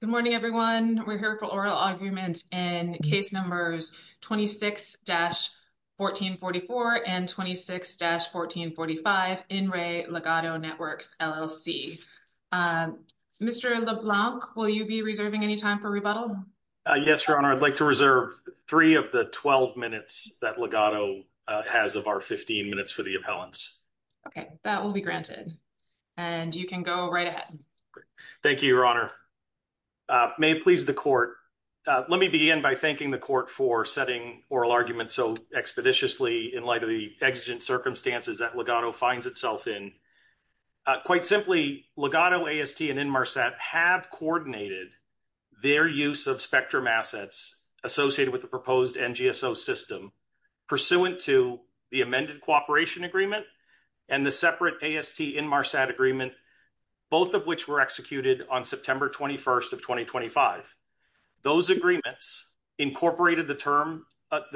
Good morning, everyone. We're here for oral arguments in case numbers 26-1444 and 26-1445 In Re Ligado Networks, LLC. Mr. LeBlanc, will you be reserving any time for rebuttal? Yes, Your Honor. I'd like to reserve three of the 12 minutes that Ligado has of our 15 minutes for the appellants. Okay, that will be granted and you can go right ahead. Thank you, Your Honor. May it please the Court. Let me begin by thanking the Court for setting oral arguments so expeditiously in light of the exigent circumstances that Ligado finds itself in. Quite simply, Ligado, AST, and Inmarsat have coordinated their use of spectrum assets associated with the proposed NGSO system pursuant to the amended cooperation agreement and the Inmarsat agreement, both of which were executed on September 21st of 2025. Those agreements incorporated the terms of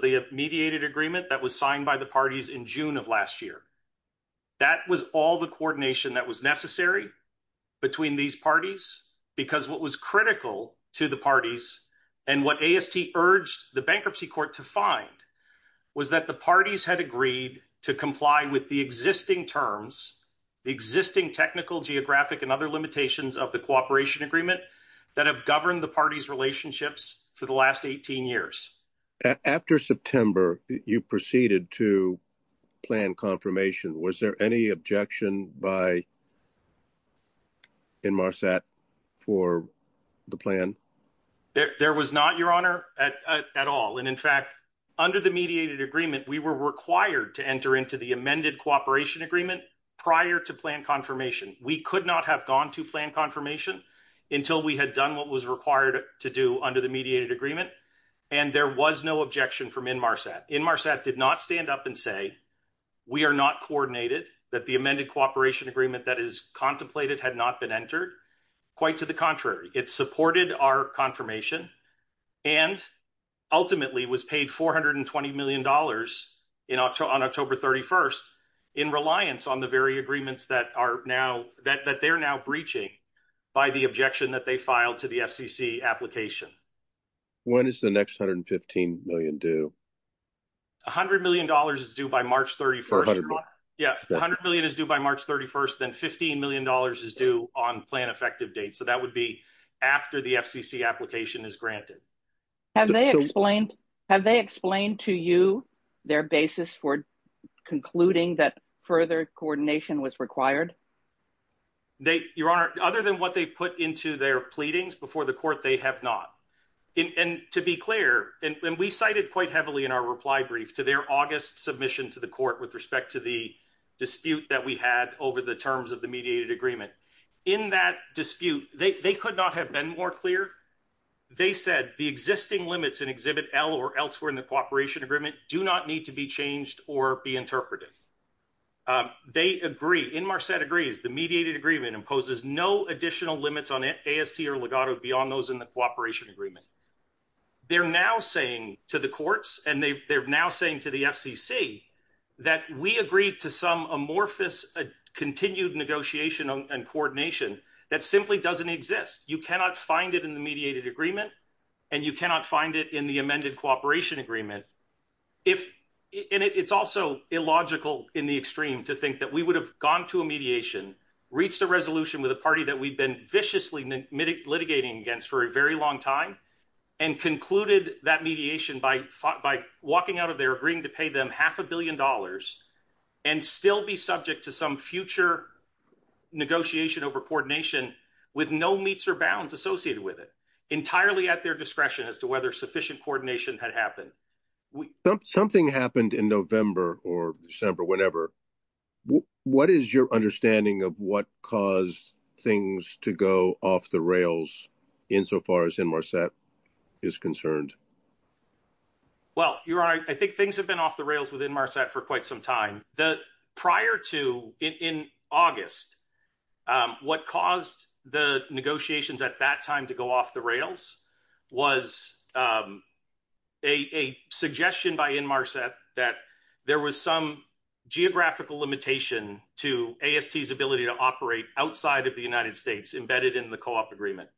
the mediated agreement that was signed by the parties in June of last year. That was all the coordination that was necessary between these parties because what was critical to the parties and what AST urged the Bankruptcy Court to find was that the parties had agreed to comply with the existing terms, the existing technical, geographic, and other limitations of the cooperation agreement that have governed the parties' relationships for the last 18 years. After September, you proceeded to plan confirmation. Was there any objection by Inmarsat for the plan? There was not, Your Honor, at all. And in fact, under the mediated agreement, we were required to enter into the amended cooperation agreement prior to plan confirmation. We could not have gone to plan confirmation until we had done what was required to do under the mediated agreement, and there was no objection from Inmarsat. Inmarsat did not stand up and say, we are not coordinated, that the amended cooperation agreement that is contemplated had not been entered. Quite to the contrary, it supported our confirmation and ultimately was paid $420 million on October 31st in reliance on the very agreements that they are now breaching by the objection that they filed to the FCC application. When is the next $115 million due? $100 million is due by March 31st, then $15 million is due on plan effective date, so that would be after the FCC application is granted. Have they explained to you their basis for concluding that further coordination was required? Your Honor, other than what they put into their pleadings before the court, they have not. And to be clear, and we cited quite heavily in our reply brief to their August submission to the court with respect to the dispute that we had over the terms of the mediated agreement. In that dispute, they could not have been more clear. They said the existing limits in Exhibit L or elsewhere in the cooperation agreement do not need to be changed or be interpreted. They agree, Inmarsat agrees, the mediated agreement imposes no additional limits on AST or legato beyond those in the cooperation agreement. They are now saying to the courts, and they are now saying to the FCC, that we agreed to some amorphous continued negotiation and coordination that simply does not exist. You cannot find it in the mediated agreement, and you cannot find it in the amended cooperation agreement. It is also illogical in the extreme to think that we would have gone to a mediation, reached a resolution with a party that we have been viciously litigating against for a very long time, and concluded that mediation by walking out of there agreeing to pay them half a billion dollars and still be subject to some future negotiation over coordination with no meets or bounds associated with it, entirely at their discretion as to whether sufficient coordination had happened. Something happened in November or December, whatever. What is your understanding of what caused things to go off the rails insofar as Inmarsat is concerned? Well, Your Honor, I think things have been off the rails with Inmarsat for quite some time. Prior to, in August, what caused the negotiations at that time to go off the rails was a suggestion by Inmarsat that there was some geographical limitation to AST's ability to operate outside of the United States embedded in the co-op agreement.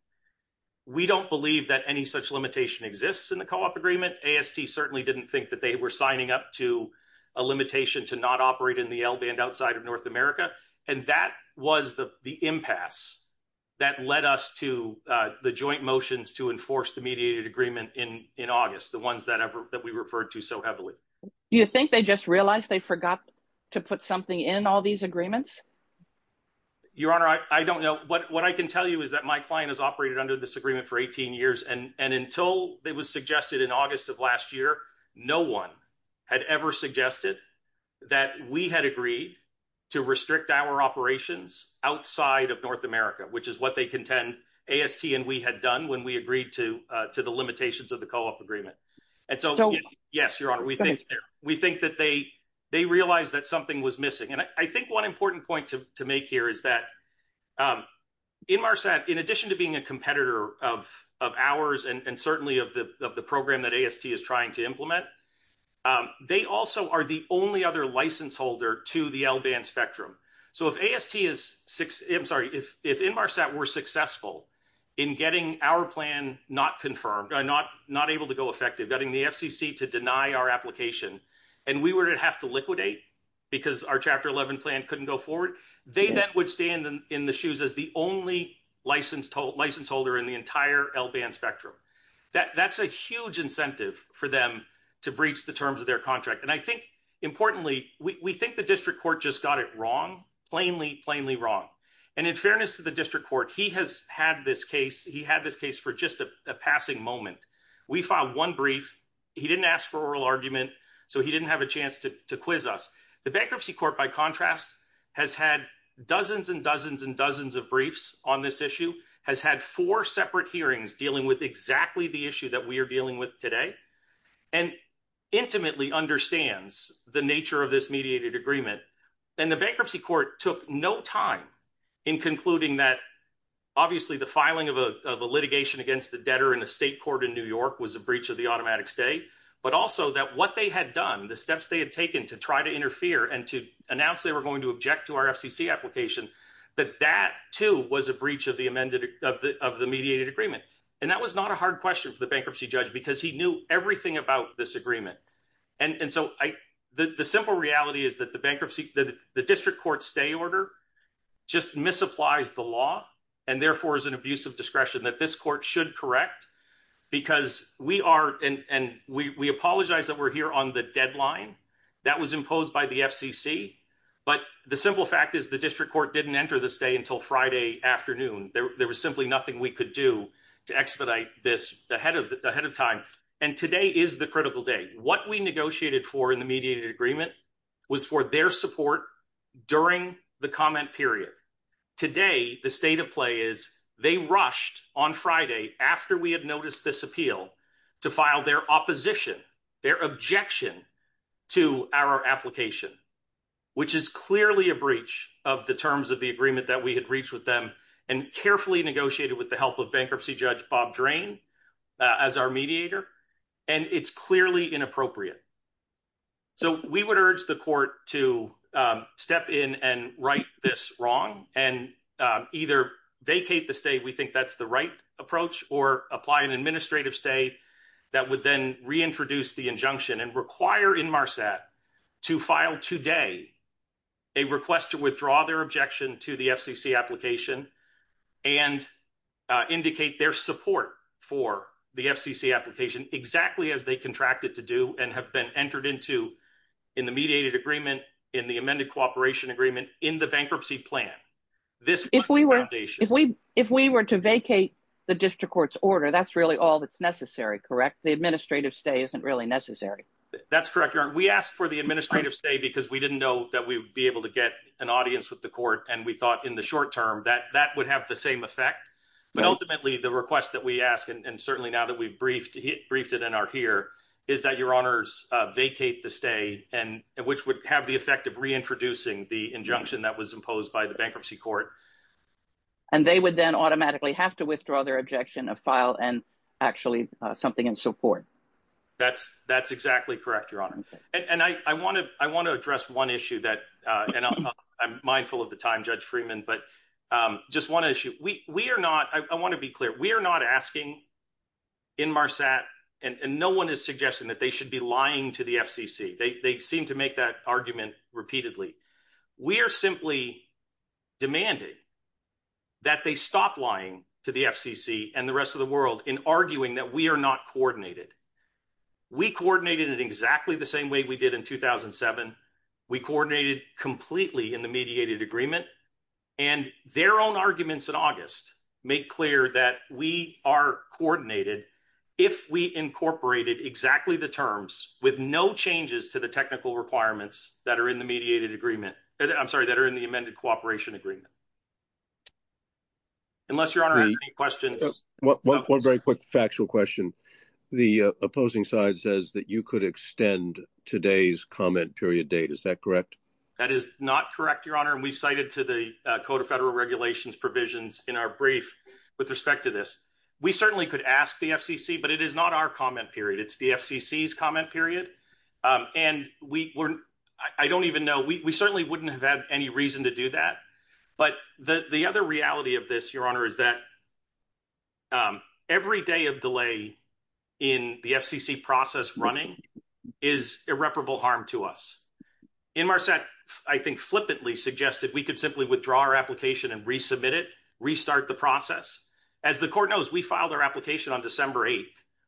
We don't believe that any such limitation exists in the co-op agreement. AST certainly didn't think that they were signing up to a limitation to not operate in the L-band outside of North America, and that was the impasse that led us to the joint motions to enforce the mediated agreement in August, the ones that we referred to so heavily. Do you think they just realized they forgot to put something in all these agreements? Your Honor, I don't know. What I can tell you is that my client has operated under this agreement for 18 years, and until it was suggested in August of last year, no one had suggested that we had agreed to restrict our operations outside of North America, which is what they contend AST and we had done when we agreed to the limitations of the co-op agreement. We think that they realized that something was missing. I think one important point to make here is that Inmarsat, in addition to being a competitor of ours and certainly of the program that AST is trying to implement, they also are the only other license holder to the L-band spectrum. If Inmarsat were successful in getting our plan not able to go effective, getting the FCC to deny our application, and we were to have to liquidate because our Chapter 11 plan couldn't go forward, they then would stand in the shoes as the only license holder in the L-band spectrum. That's a huge incentive for them to breach the terms of their contract. Importantly, we think the district court just got it wrong, plainly wrong. In fairness to the district court, he has had this case for just a passing moment. We filed one brief, he didn't ask for oral argument, so he didn't have a chance to quiz us. The bankruptcy court, by contrast, has had dozens and dozens of briefs on this issue, has had four separate hearings dealing with exactly the issue that we are dealing with today, and intimately understands the nature of this mediated agreement. The bankruptcy court took no time in concluding that, obviously, the filing of a litigation against the debtor in a state court in New York was a breach of the automatic stay, but also that what they had done, the steps they had taken to try to interfere and to announce they were going to object to our FCC application, that that, too, was a breach of the mediated agreement. That was not a hard question for the bankruptcy judge because he knew everything about this agreement. The simple reality is that the district court stay order just misapplies the law, and therefore is an abuse of discretion that this court should correct. We apologize that we're here on the deadline that was imposed by the FCC, but the simple fact is the district court didn't enter the stay until Friday afternoon. There was simply nothing we could do to expedite this ahead of time, and today is the critical day. What we negotiated for in the mediated agreement was for their support during the comment period. Today, the state of play is they rushed on Friday after we had noticed this appeal to file their opposition, their objection to our application, which is clearly a breach of the terms of the agreement that we had reached with them and carefully negotiated with the help of bankruptcy judge Bob Drain as our mediator, and it's clearly inappropriate. So we would urge the court to step in and right this wrong and either vacate the stay—we think that's the right approach—or apply an administrative stay that would then reintroduce the injunction and require Inmarsat to file today a request to withdraw their objection to the FCC application and indicate their support for the FCC application exactly as they contracted to do and have been entered into in the mediated agreement, in the amended cooperation agreement, in the bankruptcy plan. If we were to vacate the district court's order, that's really all that's necessary, correct? The administrative stay isn't really necessary. That's correct, Your Honor. We asked for the administrative stay because we didn't know that we would be able to get an audience with the court, and we thought in the short term that that would have the same effect. But ultimately, the request that we ask, and certainly now that we've briefed it and are here, is that Your Honors vacate the stay, which would have the effect of reintroducing the injunction that was imposed by the bankruptcy court. And they would then automatically have to withdraw their objection, a file, and actually something in support. That's exactly correct, Your Honor. And I want to address one issue that—and I'm mindful of the time, Judge Freeman—but just one issue. I want to be clear. We are not asking Inmarsat, and no one is suggesting that they should be lying to the FCC. They seem to make that argument repeatedly. We are simply demanding that they stop lying to the FCC and the rest of the world in arguing that we are not coordinated. We coordinated in exactly the same way we did in 2007. We coordinated completely in the mediated agreement, and their own arguments in August make clear that we are coordinated if we incorporated exactly the terms with no changes to the technical requirements that are in the mediated agreement—I'm sorry, that are in the amended cooperation agreement. Unless Your Honor has any questions. One very quick factual question. The opposing side says that you could extend today's comment period date. Is that correct? That is not correct, Your Honor. And we cited to the Code of Federal Regulations provisions in our brief with respect to this. We certainly could ask the FCC, but it is not our comment period. It's the FCC's comment period. And I don't even know—we certainly wouldn't have had any reason to do that. But the other reality of this, Your Honor, is that every day of delay in the FCC process running is irreparable harm to us. Inmarsat, I think, flippantly suggested we could simply withdraw our application and resubmit it, restart the process. As the Court knows, we filed our application on December 8th,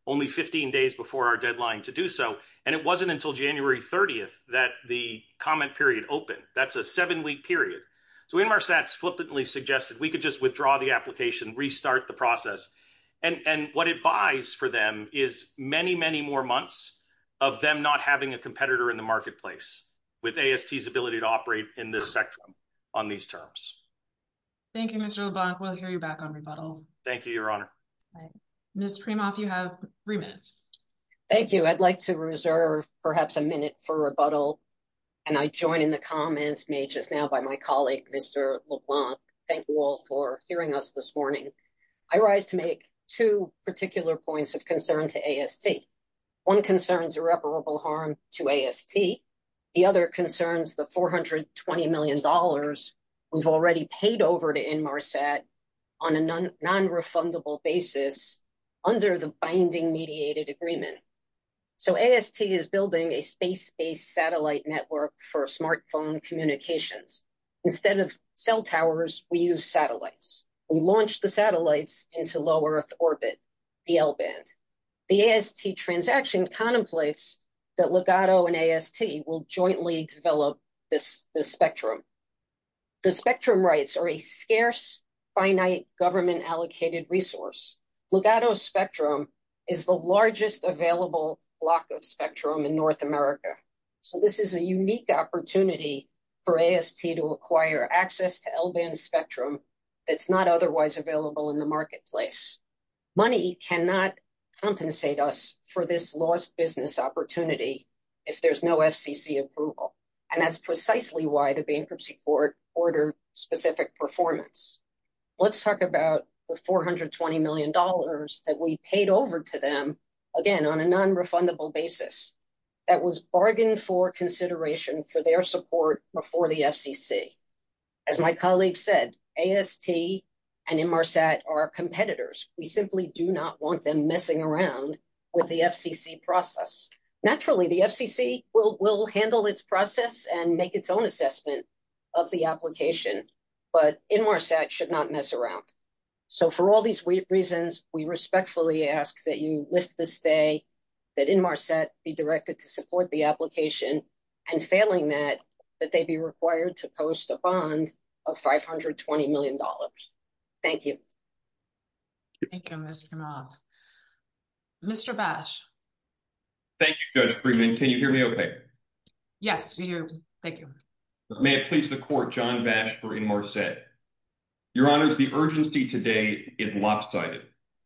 only 15 days before our deadline to do so, and it wasn't until January 30th that the comment period opened. That's a seven-week period. So Inmarsat flippantly suggested we could just withdraw the application, restart the process. And what it buys for them is many, many more months of them not having a competitor in the on these terms. Thank you, Mr. LeBlanc. We'll hear you back on rebuttal. Thank you, Your Honor. Ms. Primoff, you have three minutes. Thank you. I'd like to reserve perhaps a minute for rebuttal. And I join in the comments made just now by my colleague, Mr. LeBlanc. Thank you all for hearing us this morning. I rise to make two particular points of concern to AST. One concerns irreparable harm to AST. The other concerns the $420 million we've already paid over to Inmarsat on a non-refundable basis under the binding mediated agreement. So AST is building a space-based satellite network for smartphone communications. Instead of cell towers, we use satellites. We launch the satellites into low-Earth orbit, the L-band. The AST transaction contemplates that Legato and AST will jointly develop this spectrum. The spectrum rights are a scarce, finite, government-allocated resource. Legato's spectrum is the largest available block of spectrum in North America. So this is a unique opportunity for AST to acquire access to L-band spectrum that's not otherwise available in the marketplace. Money cannot compensate us for this lost business opportunity if there's no FCC approval. And that's precisely why the bankruptcy court ordered specific performance. Let's talk about the $420 million that we paid over to them, again, on a non-refundable basis that was bargained for consideration for their support before the FCC. As my colleague said, AST and Inmarsat are competitors. We simply do not want them messing around with the FCC process. Naturally, the FCC will handle its process and make its own assessment of the application, but Inmarsat should not mess around. So for all these reasons, we respectfully ask that you lift the stay, that Inmarsat be directed to support the application, and failing that, that they be required to post a bond of $520 million. Thank you. Thank you, Mr. Mobb. Mr. Bash. Thank you, Judge Freeman. Can you hear me okay? Yes, we hear you. Thank you. May it please the court, John Bass for Inmarsat. Your Honors, the urgency today is lopsided.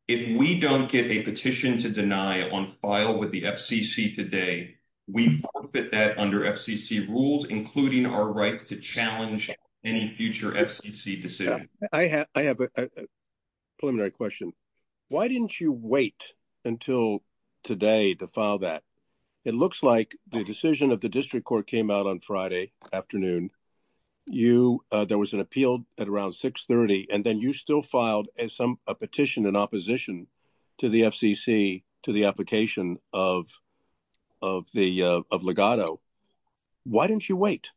If we don't get a petition to deny on file with the FCC today, we forfeit that under FCC rules, including our right to challenge any future FCC decision. I have a preliminary question. Why didn't you wait until today to file that? It looks like the decision of the district court came out on Friday afternoon. There was an appeal at around 630, and then you still filed a petition in opposition to the FCC to the application of of the legato. Why didn't you wait?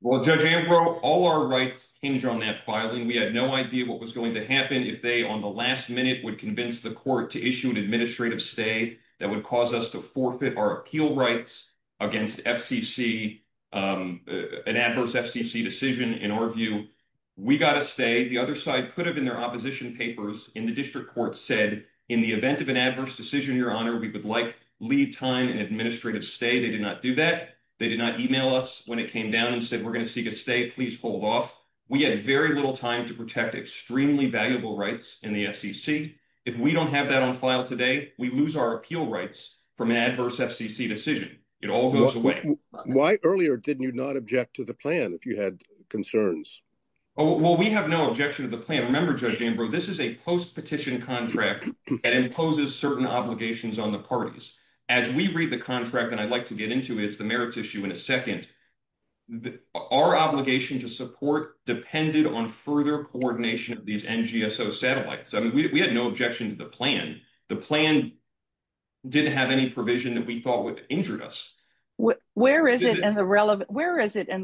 Well, Judge Ambrose, all our rights hinge on that filing. We had no idea what was going to happen if they, on the last minute, would convince the court to issue an administrative stay that would cause us to forfeit our appeal rights against FCC, an adverse FCC decision, in our view. We got a stay. The other side put it in their opposition papers, and the district court said, in the event of an adverse decision, Your Honor, we would like lead time and administrative stay. They did not do that. They did not email us when it came down and said, we're going to seek a stay. Please hold off. We had very little time to protect extremely valuable rights in the FCC. If we don't have that on file today, we lose our appeal rights from an adverse FCC decision. It all goes away. Why earlier didn't you not object to the plan if you had concerns? Well, we have no objection to the plan. Remember, Judge Ambrose, this is a post-petition contract. It imposes certain obligations on the parties. As we read the contract, and I'd like to get into it, it's the merits issue in a second. Our obligation to support depended on further coordination of these NGSO satellites. I mean, we had no objection to the plan. The plan didn't have any provision that we thought would have injured us. Where is it in the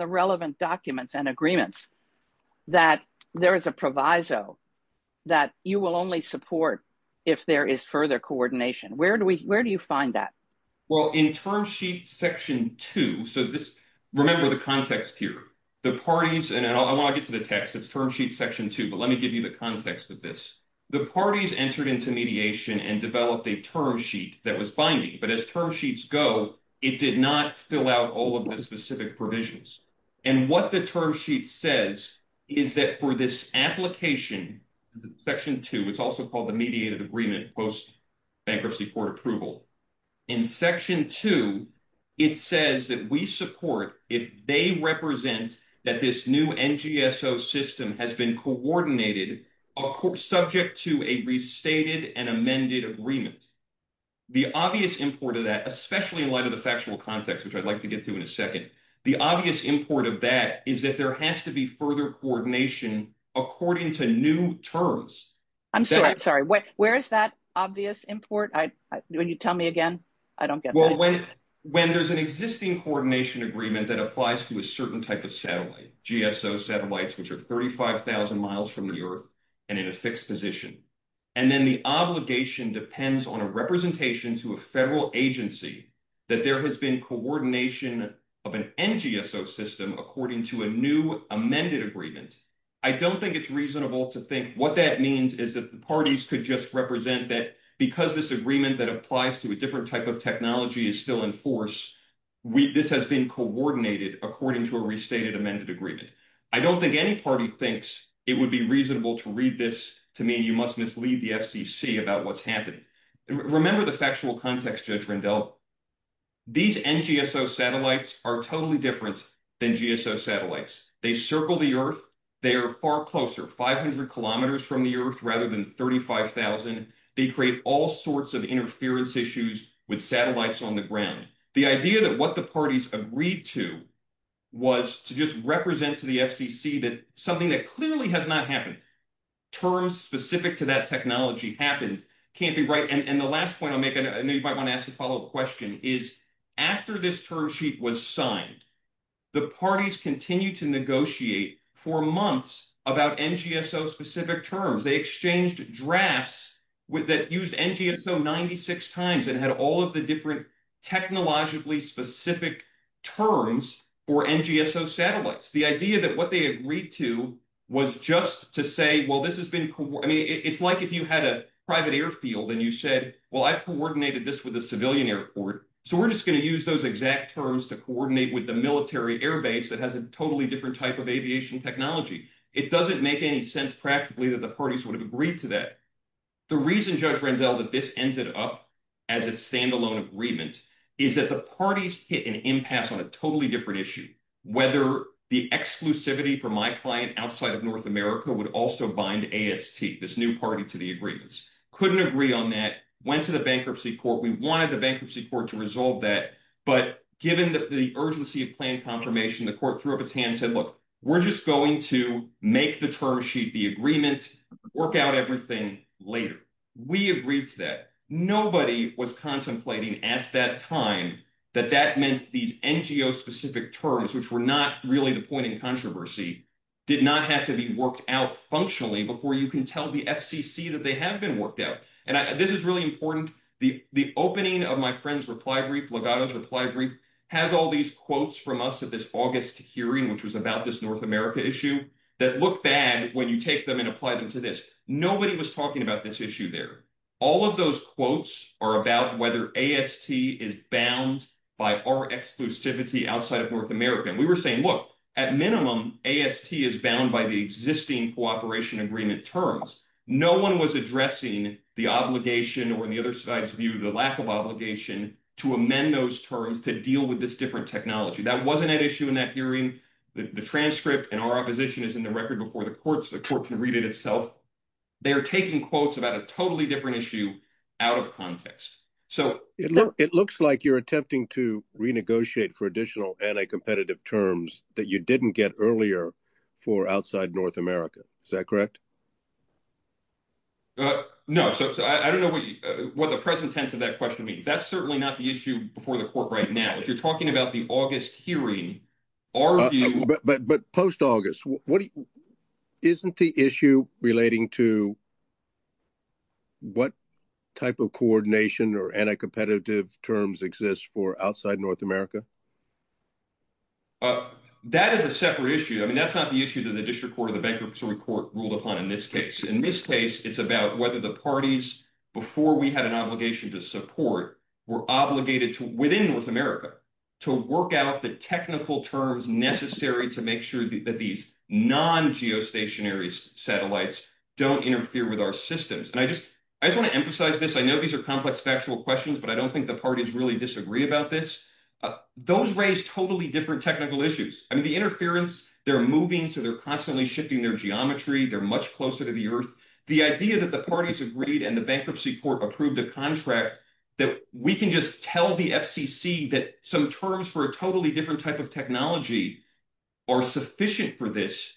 relevant documents and agreements that there is a proviso that you will only support if there is further coordination? Where do you find that? Well, in term sheet section two, remember the context here. The parties, and I want to get to the text. It's term sheet section two, but let me give you the context of this. The parties entered into mediation and developed a term sheet that was binding. But as term sheets go, it did not fill out all of the specific provisions. What the term sheet says is that for this application, section two, it's also called the mediated agreement post-bankruptcy court approval. In section two, it says that we support if they represent that this new NGSO system has been coordinated subject to a restated and amended agreement. The obvious import of that, especially in light of the factual context, which I'd like to get to in a second. The obvious import of that is that there has to be further coordination according to new terms. I'm sorry, I'm sorry. Where is that obvious import? When you tell me again, I don't get it. Well, when there's an existing coordination agreement that applies to a certain type of satellite, GSO satellites, which are 35,000 miles from the earth and in a fixed position. Then the obligation depends on a representation to a federal agency that there has been coordination of an NGSO system according to a new amended agreement. I don't think it's reasonable to think what that means is that the parties could just represent that because this agreement that applies to a different type of technology is still in force. This has been coordinated according to a restated amended agreement. I don't think any party thinks it would be reasonable to read this to me. You must mislead the FCC about what's happened. Remember the factual context, Judge Rendell. These NGSO satellites are totally different than GSO satellites. They circle the earth. They are far closer, 500 kilometers from the earth rather than 35,000. They create all sorts of interference issues with satellites on the ground. The idea that what the parties agreed to was to just represent to the FCC that something that clearly has not happened, terms specific to that technology happened, can't be right. And the last point I'll make, I know you might want to ask a follow-up question, is after this term sheet was signed, the parties continued to negotiate for months about NGSO specific terms. They exchanged drafts that used NGSO 96 times and had all of the different technologically specific terms for NGSO satellites. The idea that what they agreed to was just to say, well, this has been, I mean, it's like if you had a private airfield and you said, well, I've coordinated this with a civilian airport, so we're just going to use those exact terms to coordinate with the military air base that has a totally different type of aviation technology. It doesn't make any sense practically that the parties would have agreed to that. The reason, Judge Rendell, that this ended up as a standalone agreement is that the parties hit an impasse on a totally different issue, whether the exclusivity for my client outside of North America would also bind AST, this new party to the agreements. Couldn't agree on that, went to the bankruptcy court. We wanted the bankruptcy court to resolve that, but given the urgency of planned confirmation, the court threw up its hand and said, look, we're just going to make the term sheet, the agreement, work out everything later. We agreed to that. Nobody was contemplating at that time that that meant these NGO specific terms, which were not really the point in controversy, did not have to be worked out functionally before you can tell the FCC that they have been worked out. This is really important. The opening of my friend's reply brief, Legato's reply brief, has all these quotes from us at this August hearing, which was about this North America issue that looked bad when you take them and apply them to this. Nobody was talking about this issue there. All of those quotes are about whether AST is bound by our exclusivity outside of North America. We were saying, look, at minimum, AST is bound by the existing cooperation agreement terms. No one was addressing the obligation or the other side's view, the lack of obligation to amend those terms, to deal with this different technology. That wasn't at issue in that hearing. The transcript and our opposition is in the record before the courts. The court can read it itself. They are taking quotes about a totally different issue out of context. It looks like you're attempting to renegotiate for additional anti-competitive terms that you didn't get earlier for outside North America. Is that correct? No. I don't know what the present tense of that question means. That's certainly not the issue before the court right now. If you're talking about the August hearing, our view— But post-August, isn't the issue relating to what type of coordination or anti-competitive terms exist for outside North America? That is a separate issue. That's not the issue that the district court or the bankruptcy court ruled upon in this case. In this case, it's about whether the parties, before we had an obligation to support, were obligated within North America to work out the technical terms necessary to make sure that these non-geostationary satellites don't interfere with our systems. I just want to emphasize this. I know these are complex factual questions, but I don't think the parties really disagree about this. Those raise totally different technical issues. I mean, the interference, they're moving, so they're constantly shifting their geometry. They're much closer to the earth. The idea that the parties agreed and the bankruptcy court approved a contract that we can just tell the FCC that some terms for a totally different type of technology are sufficient for this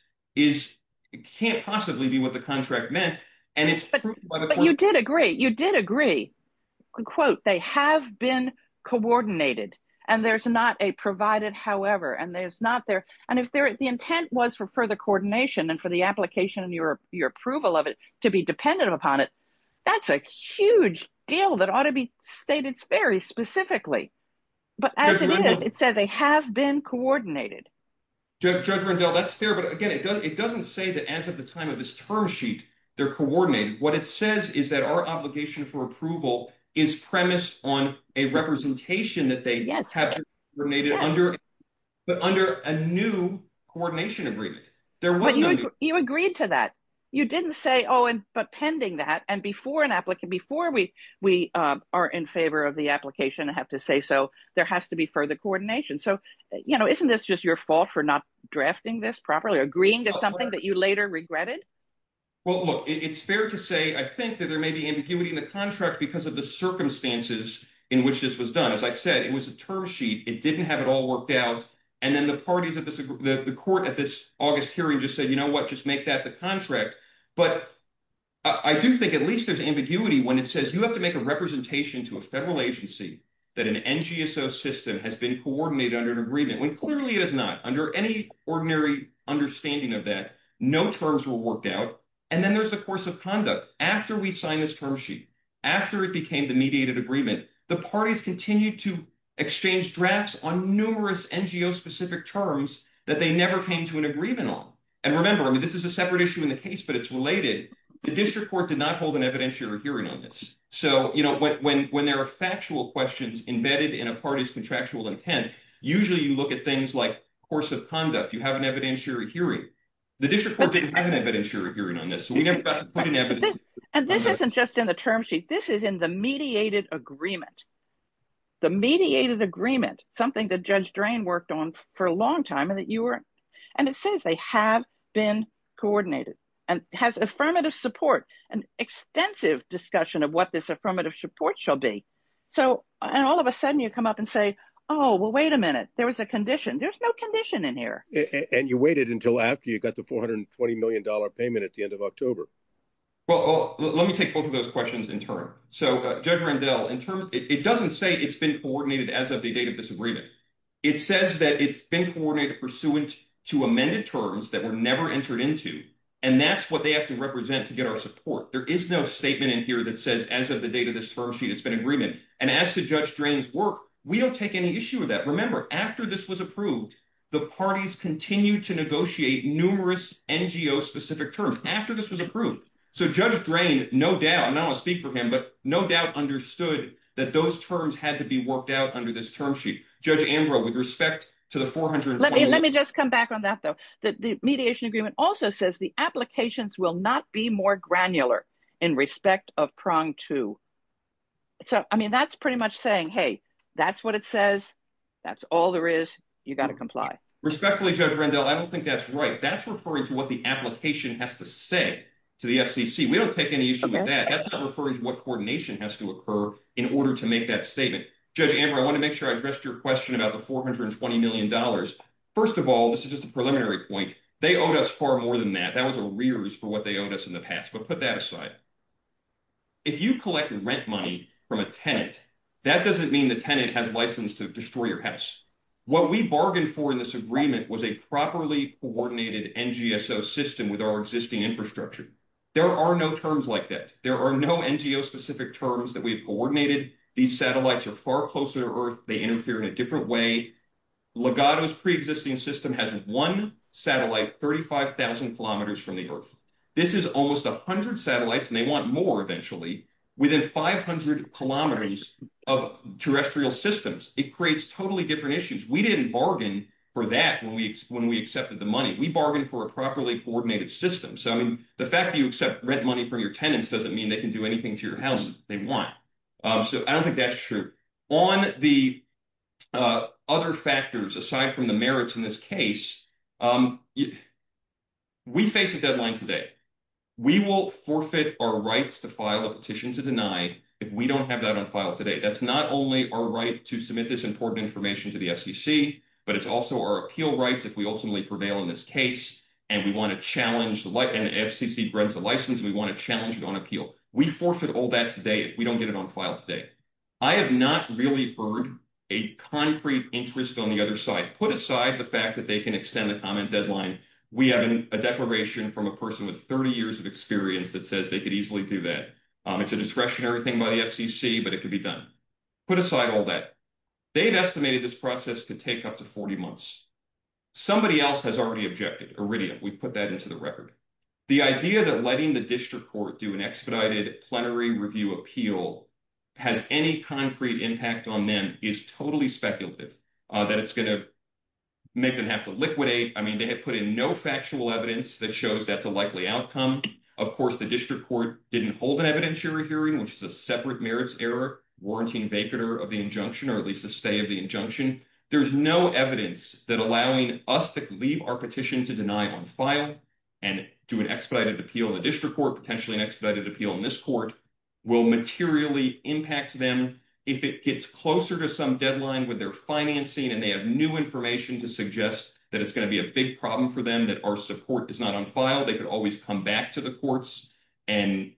can't possibly be what the contract meant. You did agree. You did agree. They have been coordinated, and there's not a provided however. The intent was for further coordination and for the application and your approval of it to be dependent upon it. That's a huge deal that ought to be stated very specifically, but as it is, it says they have been coordinated. Judge Rendell, that's fair, but again, it doesn't say that as of the time of this term sheet, they're coordinated. What it says is that our obligation for approval is premised on a representation that they have been coordinated under, but under a new coordination agreement. You agreed to that. You didn't say, oh, but pending that, and before an applicant, before we are in favor of the application, I have to say so, there has to be further coordination. Isn't this just your fault for not drafting this properly, agreeing to something that you later regretted? Well, look, it's fair to say, I think that there may be ambiguity in the contract because of the circumstances in which this was done. As I said, it was a term sheet. It didn't have it all worked out, and then the parties of the court at this August hearing just said, just make that the contract. But I do think at least there's ambiguity when it says you have to make a representation to a federal agency that an NGSO system has been coordinated under an agreement, when clearly it is not. Under any ordinary understanding of that, no terms were worked out, and then there's the course of conduct. After we signed this term sheet, after it became the mediated agreement, the parties continued to exchange drafts on numerous NGO-specific terms that they never came to an agreement on. Remember, this is a separate issue in the case, but it's related. The district court did not hold an evidentiary hearing on this. When there are factual questions embedded in a party's contractual intent, usually you look at things like course of conduct. You have an evidentiary hearing. The district court didn't have an evidentiary hearing on this, so we never got to put an evidence. And this isn't just in the term sheet. This is in the mediated agreement. The mediated agreement, something that Judge Drain worked on for a long time. And it says they have been coordinated and has affirmative support, an extensive discussion of what this affirmative support shall be. And all of a sudden, you come up and say, oh, well, wait a minute. There was a condition. There's no condition in here. And you waited until after you got the $420 million payment at the end of October. Well, let me take both of those questions in turn. So Judge Randell, it doesn't say it's been coordinated as of the date of this agreement. It says that it's been coordinated pursuant to amended terms that were never entered into. And that's what they have to represent to get our support. There is no statement in here that says as of the date of this term sheet, it's been agreement. And as to Judge Drain's work, we don't take any issue with that. Remember, after this was approved, the parties continued to negotiate numerous NGO-specific terms after this was approved. So Judge Drain, no doubt, I'm not gonna speak for him, but no doubt understood that those terms had to be worked out under this term sheet. Judge Ambrose, with respect to the $420 million— Let me just come back on that, though. The mediation agreement also says the applications will not be more granular in respect of prong two. So, I mean, that's pretty much saying, hey, that's what it says. That's all there is. You gotta comply. Respectfully, Judge Randell, I don't think that's right. That's referring to what the application has to say to the FCC. We don't take any issue with that. That's not referring to what coordination has to occur in order to make that statement. Judge Ambrose, I want to make sure I addressed your question about the $420 million. First of all, this is just a preliminary point. They owed us far more than that. That was arrears for what they owed us in the past. But put that aside. If you collect rent money from a tenant, that doesn't mean the tenant has license to destroy your house. What we bargained for in this agreement was a properly-coordinated NGSO system with our existing infrastructure. There are no terms like that. There are no NGO-specific terms that we have coordinated. These satellites are far closer to Earth. They interfere in a different way. Legato's pre-existing system has one satellite 35,000 kilometers from the Earth. This is almost 100 satellites, and they want more eventually, within 500 kilometers of terrestrial systems. It creates totally different issues. We didn't bargain for that when we accepted the money. We bargained for a properly-coordinated system. So, I mean, the fact that you accept rent money from your tenants doesn't mean they can do anything to your house that they want. So, I don't think that's true. On the other factors, aside from the merits in this case, we face a deadline today. We will forfeit our rights to file a petition to deny if we don't have that on file today. That's not only our right to submit this important information to the FCC, but it's also our appeal rights if we ultimately prevail in this case, and we want to challenge the FCC grants of license. We want to challenge it on appeal. We forfeit all that today if we don't get it on file today. I have not really heard a concrete interest on the other side. Put aside the fact that they can extend the comment deadline. We have a declaration from a person with 30 years of experience that says they could easily do that. It's a discretionary thing by the FCC, but it could be done. Put aside all that. They've estimated this process could take up to 40 months. Somebody else has already objected. Iridium. We've put that into the record. The idea that letting the district court do an expedited plenary review appeal has any concrete impact on them is totally speculative. That it's going to make them have to liquidate. I mean, they have put in no factual evidence that shows that's a likely outcome. Of course, the district court didn't hold an evidentiary hearing, which is a separate merits error, warranting vapor of the injunction, or at least a stay of the injunction. There's no evidence that allowing us to leave our petition to deny on file and do an expedited appeal in the district court, potentially an expedited appeal in this court, will materially impact them. If it gets closer to some deadline with their financing and they have new information to suggest that it's going to be a big problem for them, that our support is not on file, they could always come back to the courts and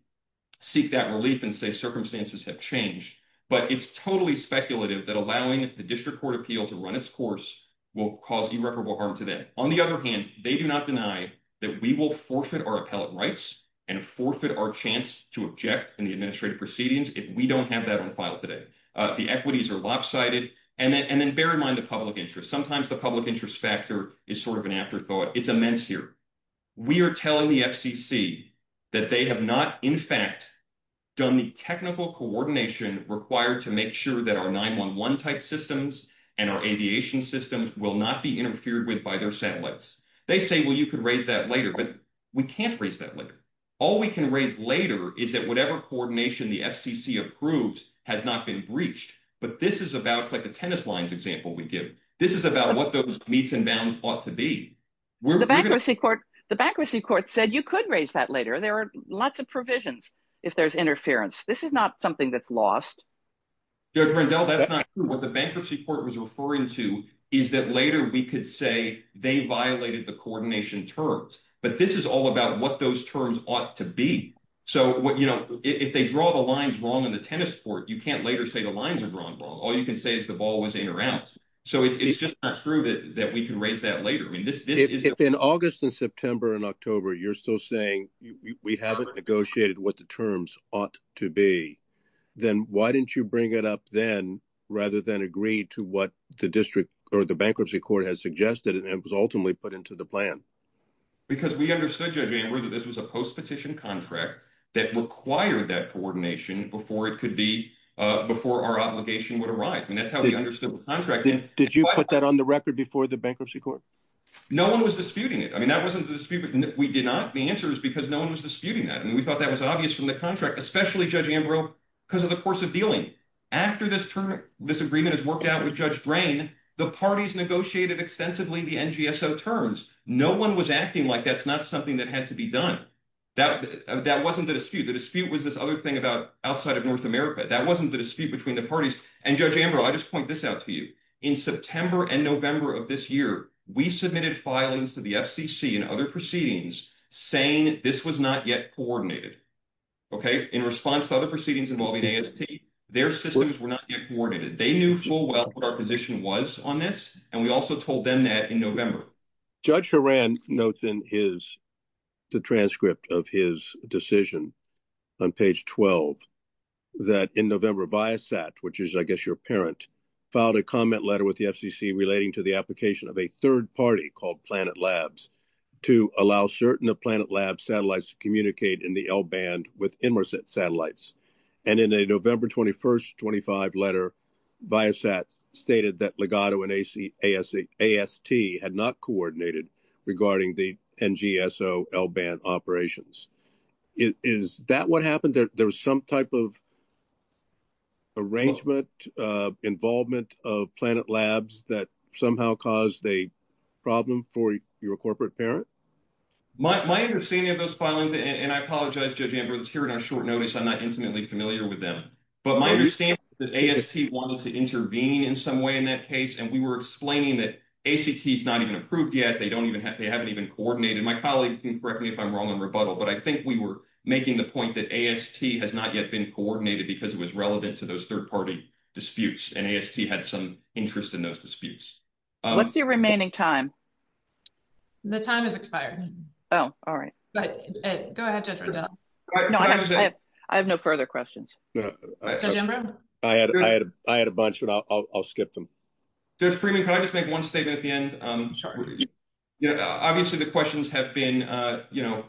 seek that relief and say circumstances have changed. But it's totally speculative that allowing the district court appeal to run its course will cause irreparable harm to them. On the other hand, they do not deny that we will forfeit our appellate rights and forfeit our chance to object in the administrative proceedings if we don't have that on file today. The equities are lopsided. And then bear in mind the public interest. Sometimes the public interest factor is sort of an afterthought. It's immense here. We are telling the FCC that they have not, in fact, done the technical coordination required to make sure that our 911-type systems and our aviation systems will not be interfered with by their satellites. They say, well, you could raise that later. But we can't raise that later. All we can raise later is that whatever coordination the FCC approves has not been breached. But this is about, it's like the tennis lines example we give. This is about what those meets and bounds ought to be. The bankruptcy court said you could raise that later. There are lots of provisions if there's interference. This is not something that's lost. Judge Rendell, that's not true. What the bankruptcy court was referring to is that later we could say they violated the coordination terms. But this is all about what those terms ought to be. So if they draw the lines wrong in the tennis court, you can't later say the lines are drawn wrong. All you can say is the ball was in or out. So it's just not true that we can raise that later. I mean, this is- If in August and September and October you're still saying we haven't negotiated what the terms ought to be, then why didn't you bring it up then rather than agree to what the district or the bankruptcy court has suggested and it was ultimately put into the plan? Because we understood, Judge Amber, that this was a post-petition contract that required that coordination before it could be, before our obligation would arise. And that's how we understood the contract. Did you put that on the record before the bankruptcy court? No one was disputing it. I mean, that wasn't the dispute. We did not. The answer is because no one was disputing that. And we thought that was obvious from the contract, especially, Judge Amber, because of the course of dealing. After this agreement is worked out with Judge Drain, the parties negotiated extensively the NGSO terms. No one was acting like that's not something that had to be done. That wasn't the dispute. The dispute was this other thing about outside of North America. That wasn't the dispute between the parties. And, Judge Amber, I just point this out to you. In September and November of this year, we submitted filings to the FCC and other proceedings saying this was not yet coordinated. Okay. In response to other proceedings involving ASP, their systems were not yet coordinated. They knew full well what our position was on this. And we also told them that in November. Judge Horan notes in the transcript of his decision on page 12 that in November, Viasat, which is, I guess, your parent, filed a comment letter with the FCC relating to the application of a third party called Planet Labs to allow certain of Planet Labs satellites to communicate in the L-band with Emerset satellites. And in a November 21st, 25 letter, Viasat stated that Legato and AST had not coordinated regarding the NGSO L-band operations. Is that what happened? There was some type of arrangement, involvement of Planet Labs that somehow caused a problem for your corporate parent? My understanding of those filings, and I apologize, Judge Ambrose, here in our short notice, I'm not intimately familiar with them. But my understanding is that AST wanted to intervene in some way in that case. And we were explaining that ACT is not even approved yet. They don't even have, they haven't even coordinated. My colleague can correct me if I'm wrong in rebuttal, but I think we were making the point that AST has not yet been coordinated because it was relevant to those third party disputes. And AST had some interest in those disputes. What's your remaining time? The time is expired. Oh, all right. But go ahead, Judge Riddell. No, I have no further questions. Judge Ambrose? I had a bunch, but I'll skip them. Judge Freeman, can I just make one statement at the end? Obviously, the questions have been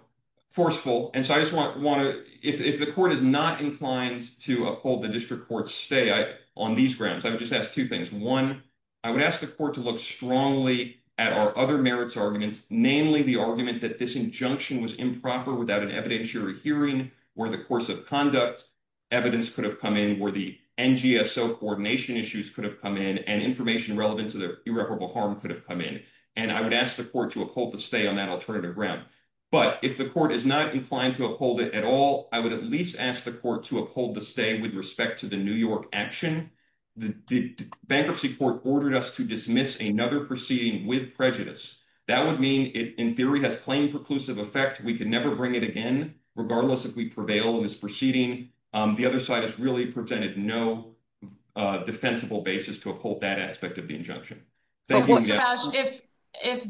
forceful. And so I just want to, if the court is not inclined to uphold the district court's stay on these grounds, I would just ask two things. One, I would ask the court to look strongly at our other merits arguments, namely the argument that this injunction was improper without an evidentiary hearing or the course of conduct. Evidence could have come in where the NGSO coordination issues could have come in and information relevant to the irreparable harm could have come in. And I would ask the court to uphold the stay on that alternative ground. But if the court is not inclined to uphold it at all, I would at least ask the court to uphold the stay with respect to the New York action. The bankruptcy court ordered us to dismiss another proceeding with prejudice. That would mean it, in theory, has plain preclusive effect. We can never bring it again, regardless if we prevail in this proceeding. The other side has really presented no defensible basis to uphold that aspect of the injunction. Thank you. Judge Cash, if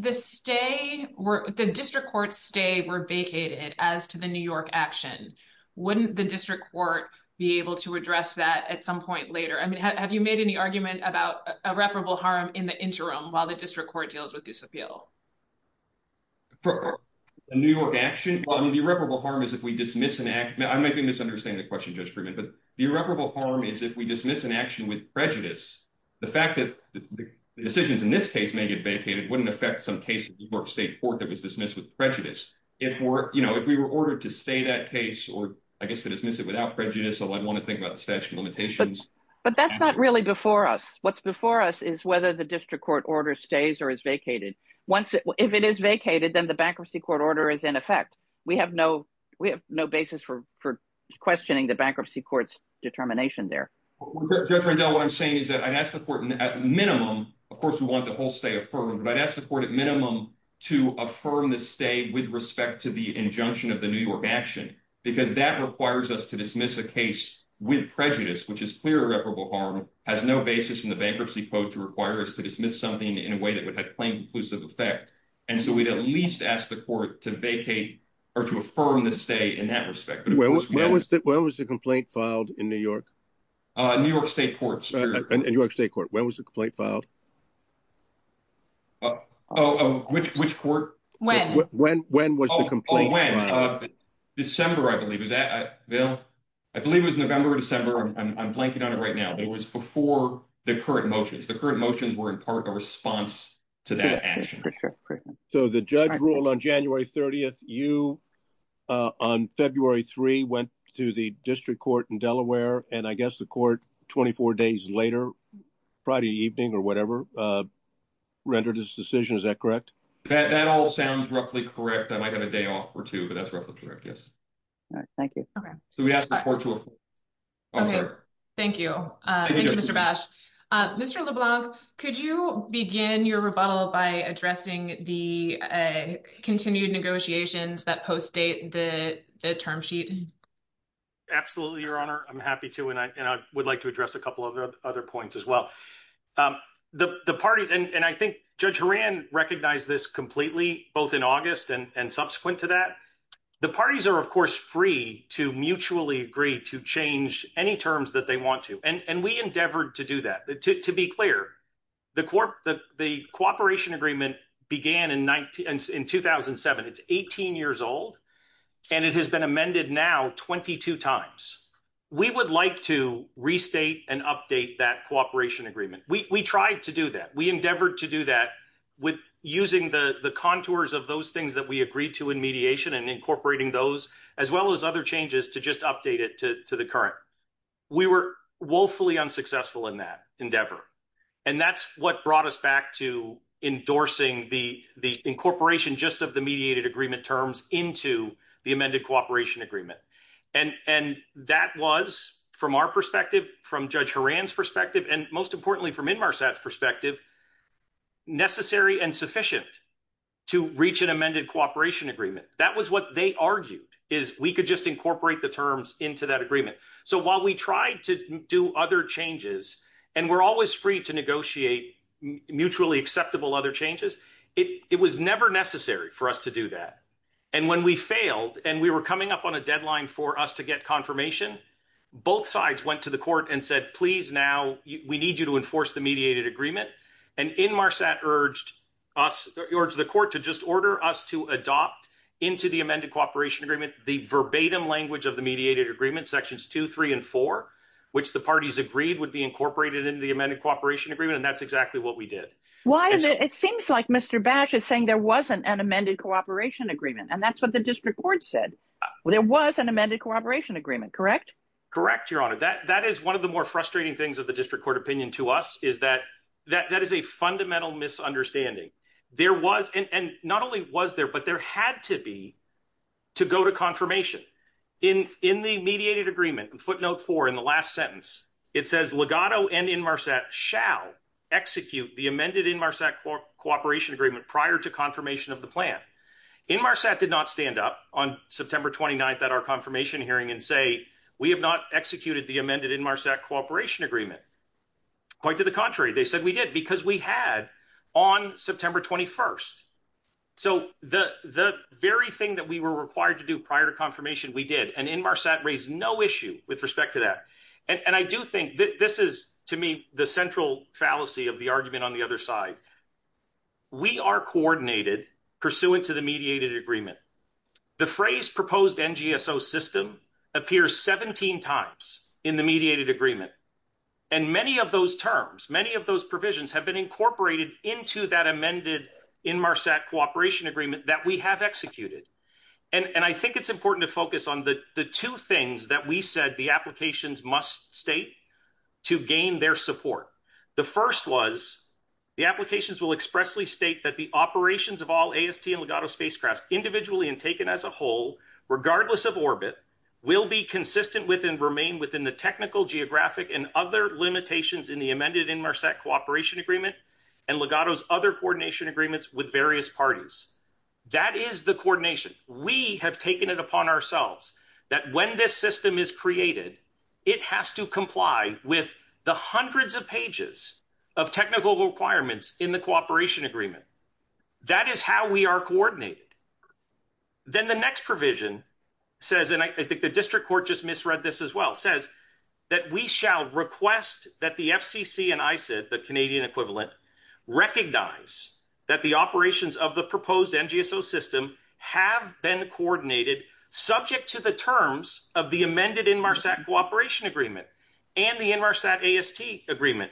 the district court's stay were vacated as to the New York action, wouldn't the district court be able to address that at some point later? I mean, have you made any argument about irreparable harm in the interim while the district court deals with this appeal? The New York action? Well, I mean, the irreparable harm is if we dismiss an act. I may be misunderstanding the question, Judge Friedman, but the irreparable harm is if we dismiss an action with prejudice. The fact that the decisions in this case may get vacated wouldn't affect some case of New York State Court that was dismissed with prejudice. If we were ordered to stay that case, or I guess to dismiss it without prejudice, I'd want to think about the statute of limitations. But that's not really before us. What's before us is whether the district court order stays or is vacated. If it is vacated, then the bankruptcy court order is in effect. We have no basis for questioning the bankruptcy court's determination there. Judge Rendell, what I'm saying is that I'd ask the court at minimum, of course, we want the whole stay affirmed, but I'd ask the court at minimum to affirm the stay with respect to the injunction of the New York action, because that requires us to dismiss a case with prejudice, which is clear irreparable harm, has no basis in the bankruptcy code to require us to dismiss something in a way that would have plain conclusive effect. And so we'd at least ask the court to vacate or to affirm the stay in that respect. But it was massive. When was the complaint filed in New York? New York State Court, sir. In New York State Court. When was the complaint filed? Oh, which court? When. When was the complaint filed? Oh, when? December, I believe. Is that, Bill? I believe it was November or December. I'm blanking on it right now, but it was before the current motions. The current motions were in part a response to that action. So the judge ruled on January 30th, you on February 3 went to the district court in Delaware, and I guess the court 24 days later, Friday evening or whatever, rendered his decision, is that correct? That all sounds roughly correct. I might have a day off or two, but that's roughly correct, yes. All right, thank you. Okay. So we'd ask the court to affirm. Okay, thank you. Thank you, Mr. Bash. Mr. LeBlanc, could you begin your rebuttal by addressing the continued negotiations that post-date the term sheet? Absolutely, Your Honor. I'm happy to, and I would like to address a couple of other points as well. The parties, and I think Judge Horan recognized this completely, both in August and subsequent to that. The parties are, of course, free to mutually agree to change any terms that they want to. And we endeavored to do that. To be clear, the cooperation agreement began in 2007. It's 18 years old, and it has been amended now 22 times. We would like to restate and update that cooperation agreement. We tried to do that. We endeavored to do that with using the contours of those things that we agreed to in mediation and incorporating those, as well as other changes to just update it, to the current. We were woefully unsuccessful in that endeavor. And that's what brought us back to endorsing the incorporation just of the mediated agreement terms into the amended cooperation agreement. And that was, from our perspective, from Judge Horan's perspective, and most importantly, from Inmarsat's perspective, necessary and sufficient to reach an amended cooperation agreement. That was what they argued, is we could just incorporate the terms into that agreement. So while we tried to do other changes, and we're always free to negotiate mutually acceptable other changes, it was never necessary for us to do that. And when we failed, and we were coming up on a deadline for us to get confirmation, both sides went to the court and said, please, now we need you to enforce the mediated agreement. And Inmarsat urged the court to just order us to adopt into the amended cooperation agreement the verbatim language of the mediated agreement, sections two, three, and four, which the parties agreed would be incorporated into the amended cooperation agreement. And that's exactly what we did. Why is it? It seems like Mr. Bash is saying there wasn't an amended cooperation agreement. And that's what the district court said. Well, there was an amended cooperation agreement, correct? Correct, Your Honor. That is one of the more frustrating things of the district court opinion to us, is that that is a fundamental misunderstanding. There was, and not only was there, but there had to be to go to confirmation. In the mediated agreement, footnote four in the last sentence, it says Legato and Inmarsat shall execute the amended Inmarsat cooperation agreement prior to confirmation of the plan. Inmarsat did not stand up on September 29th at our confirmation hearing and say, we have not executed the amended Inmarsat cooperation agreement. Quite to the contrary, they said we did because we had on September 21st. So the very thing that we were required to do prior to confirmation, we did. And Inmarsat raised no issue with respect to that. And I do think that this is to me the central fallacy of the argument on the other side. We are coordinated pursuant to the mediated agreement. The phrase proposed NGSO system appears 17 times in the mediated agreement. And many of those terms, many of those provisions have been incorporated into that amended Inmarsat cooperation agreement that we have executed. And I think it's important to focus on the two things that we said the applications must state to gain their support. The first was the applications will expressly state that the operations of all AST and Legato spacecraft individually and taken as a whole, regardless of orbit, will be consistent with and remain within the technical, geographic and other limitations in the amended Inmarsat cooperation agreement. And Legato's other coordination agreements with various parties. That is the coordination. We have taken it upon ourselves that when this system is created, it has to comply with the hundreds of pages of technical requirements in the cooperation agreement. That is how we are coordinated. Then the next provision says, and I think the district court just misread this as well, says that we shall request that the FCC and ICID, the Canadian equivalent, recognize that the operations of the proposed NGSO system have been coordinated subject to the terms of the amended Inmarsat cooperation agreement and the Inmarsat AST agreement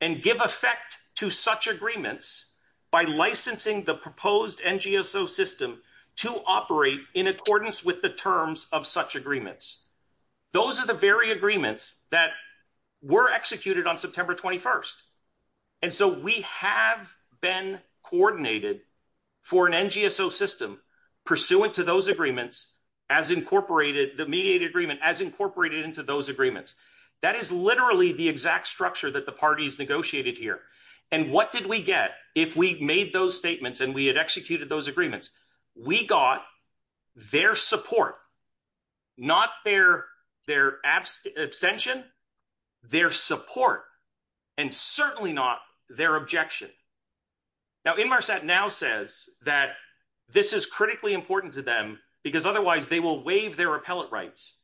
and give effect to such agreements by licensing the proposed NGSO system to operate in accordance with the terms of such agreements. Those are the very agreements that were executed on September 21st. And so we have been coordinated for an NGSO system pursuant to those agreements as incorporated, the mediated agreement as incorporated into those agreements. That is literally the exact structure that the parties negotiated here. And what did we get if we made those statements and we had executed those agreements? We got their support, not their abstention, their support. And certainly not their objection. Now, Inmarsat now says that this is critically important to them because otherwise they will waive their appellate rights.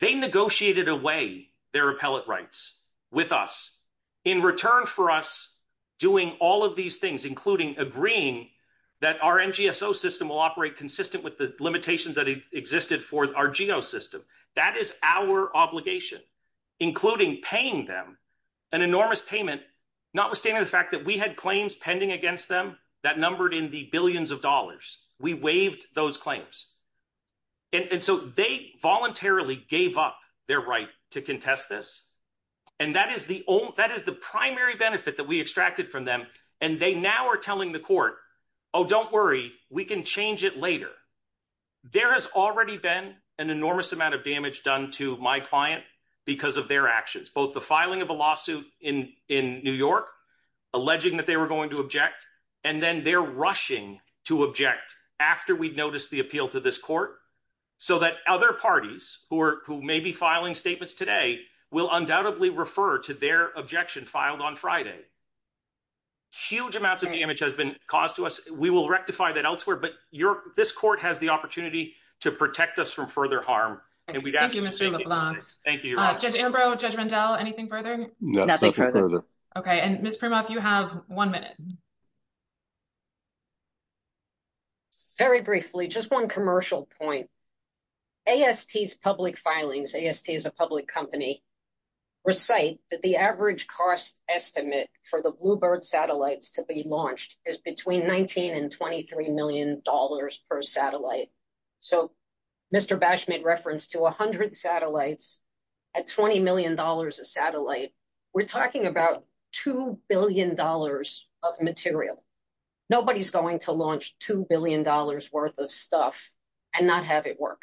They negotiated away their appellate rights with us in return for us doing all of these things, including agreeing that our NGSO system will operate consistent with the limitations that existed for our geo system. That is our obligation, including paying them an enormous payment, notwithstanding the fact that we had claims pending against them that numbered in the billions of dollars. We waived those claims. And so they voluntarily gave up their right to contest this. And that is the only, that is the primary benefit that we extracted from them. And they now are telling the court, oh, don't worry, we can change it later. There has already been an enormous amount of damage done to my client because of their actions, both the filing of a lawsuit in New York, alleging that they were going to object, and then their rushing to object after we'd noticed the appeal to this court so that other parties who are who may be filing statements today will undoubtedly refer to their objection filed on Friday. Huge amounts of damage has been caused to us. We will rectify that elsewhere, but this court has the opportunity to protect us from further harm. Thank you, Mr. LeBlanc. Thank you, Your Honor. Judge Ambrose, Judge Rendell, anything further? Nothing further. OK, and Ms. Primoff, you have one minute. Very briefly, just one commercial point. AST's public filings, AST is a public company, recite that the average cost estimate for the Bluebird satellites to be launched is between $19 and $23 million per satellite. So Mr. Bash made reference to 100 satellites at $20 million a satellite. We're talking about $2 billion of material. Nobody's going to launch $2 billion worth of stuff and not have it work.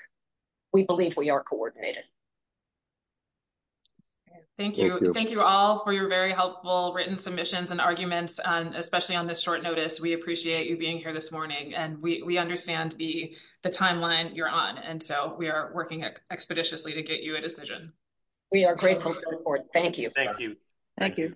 We believe we are coordinated. Thank you. Thank you all for your very helpful written submissions and arguments, especially on this short notice. We appreciate you being here this morning and we understand the timeline you're on. And so we are working expeditiously to get you a decision. We are grateful to the board. Thank you. Thank you. Thank you.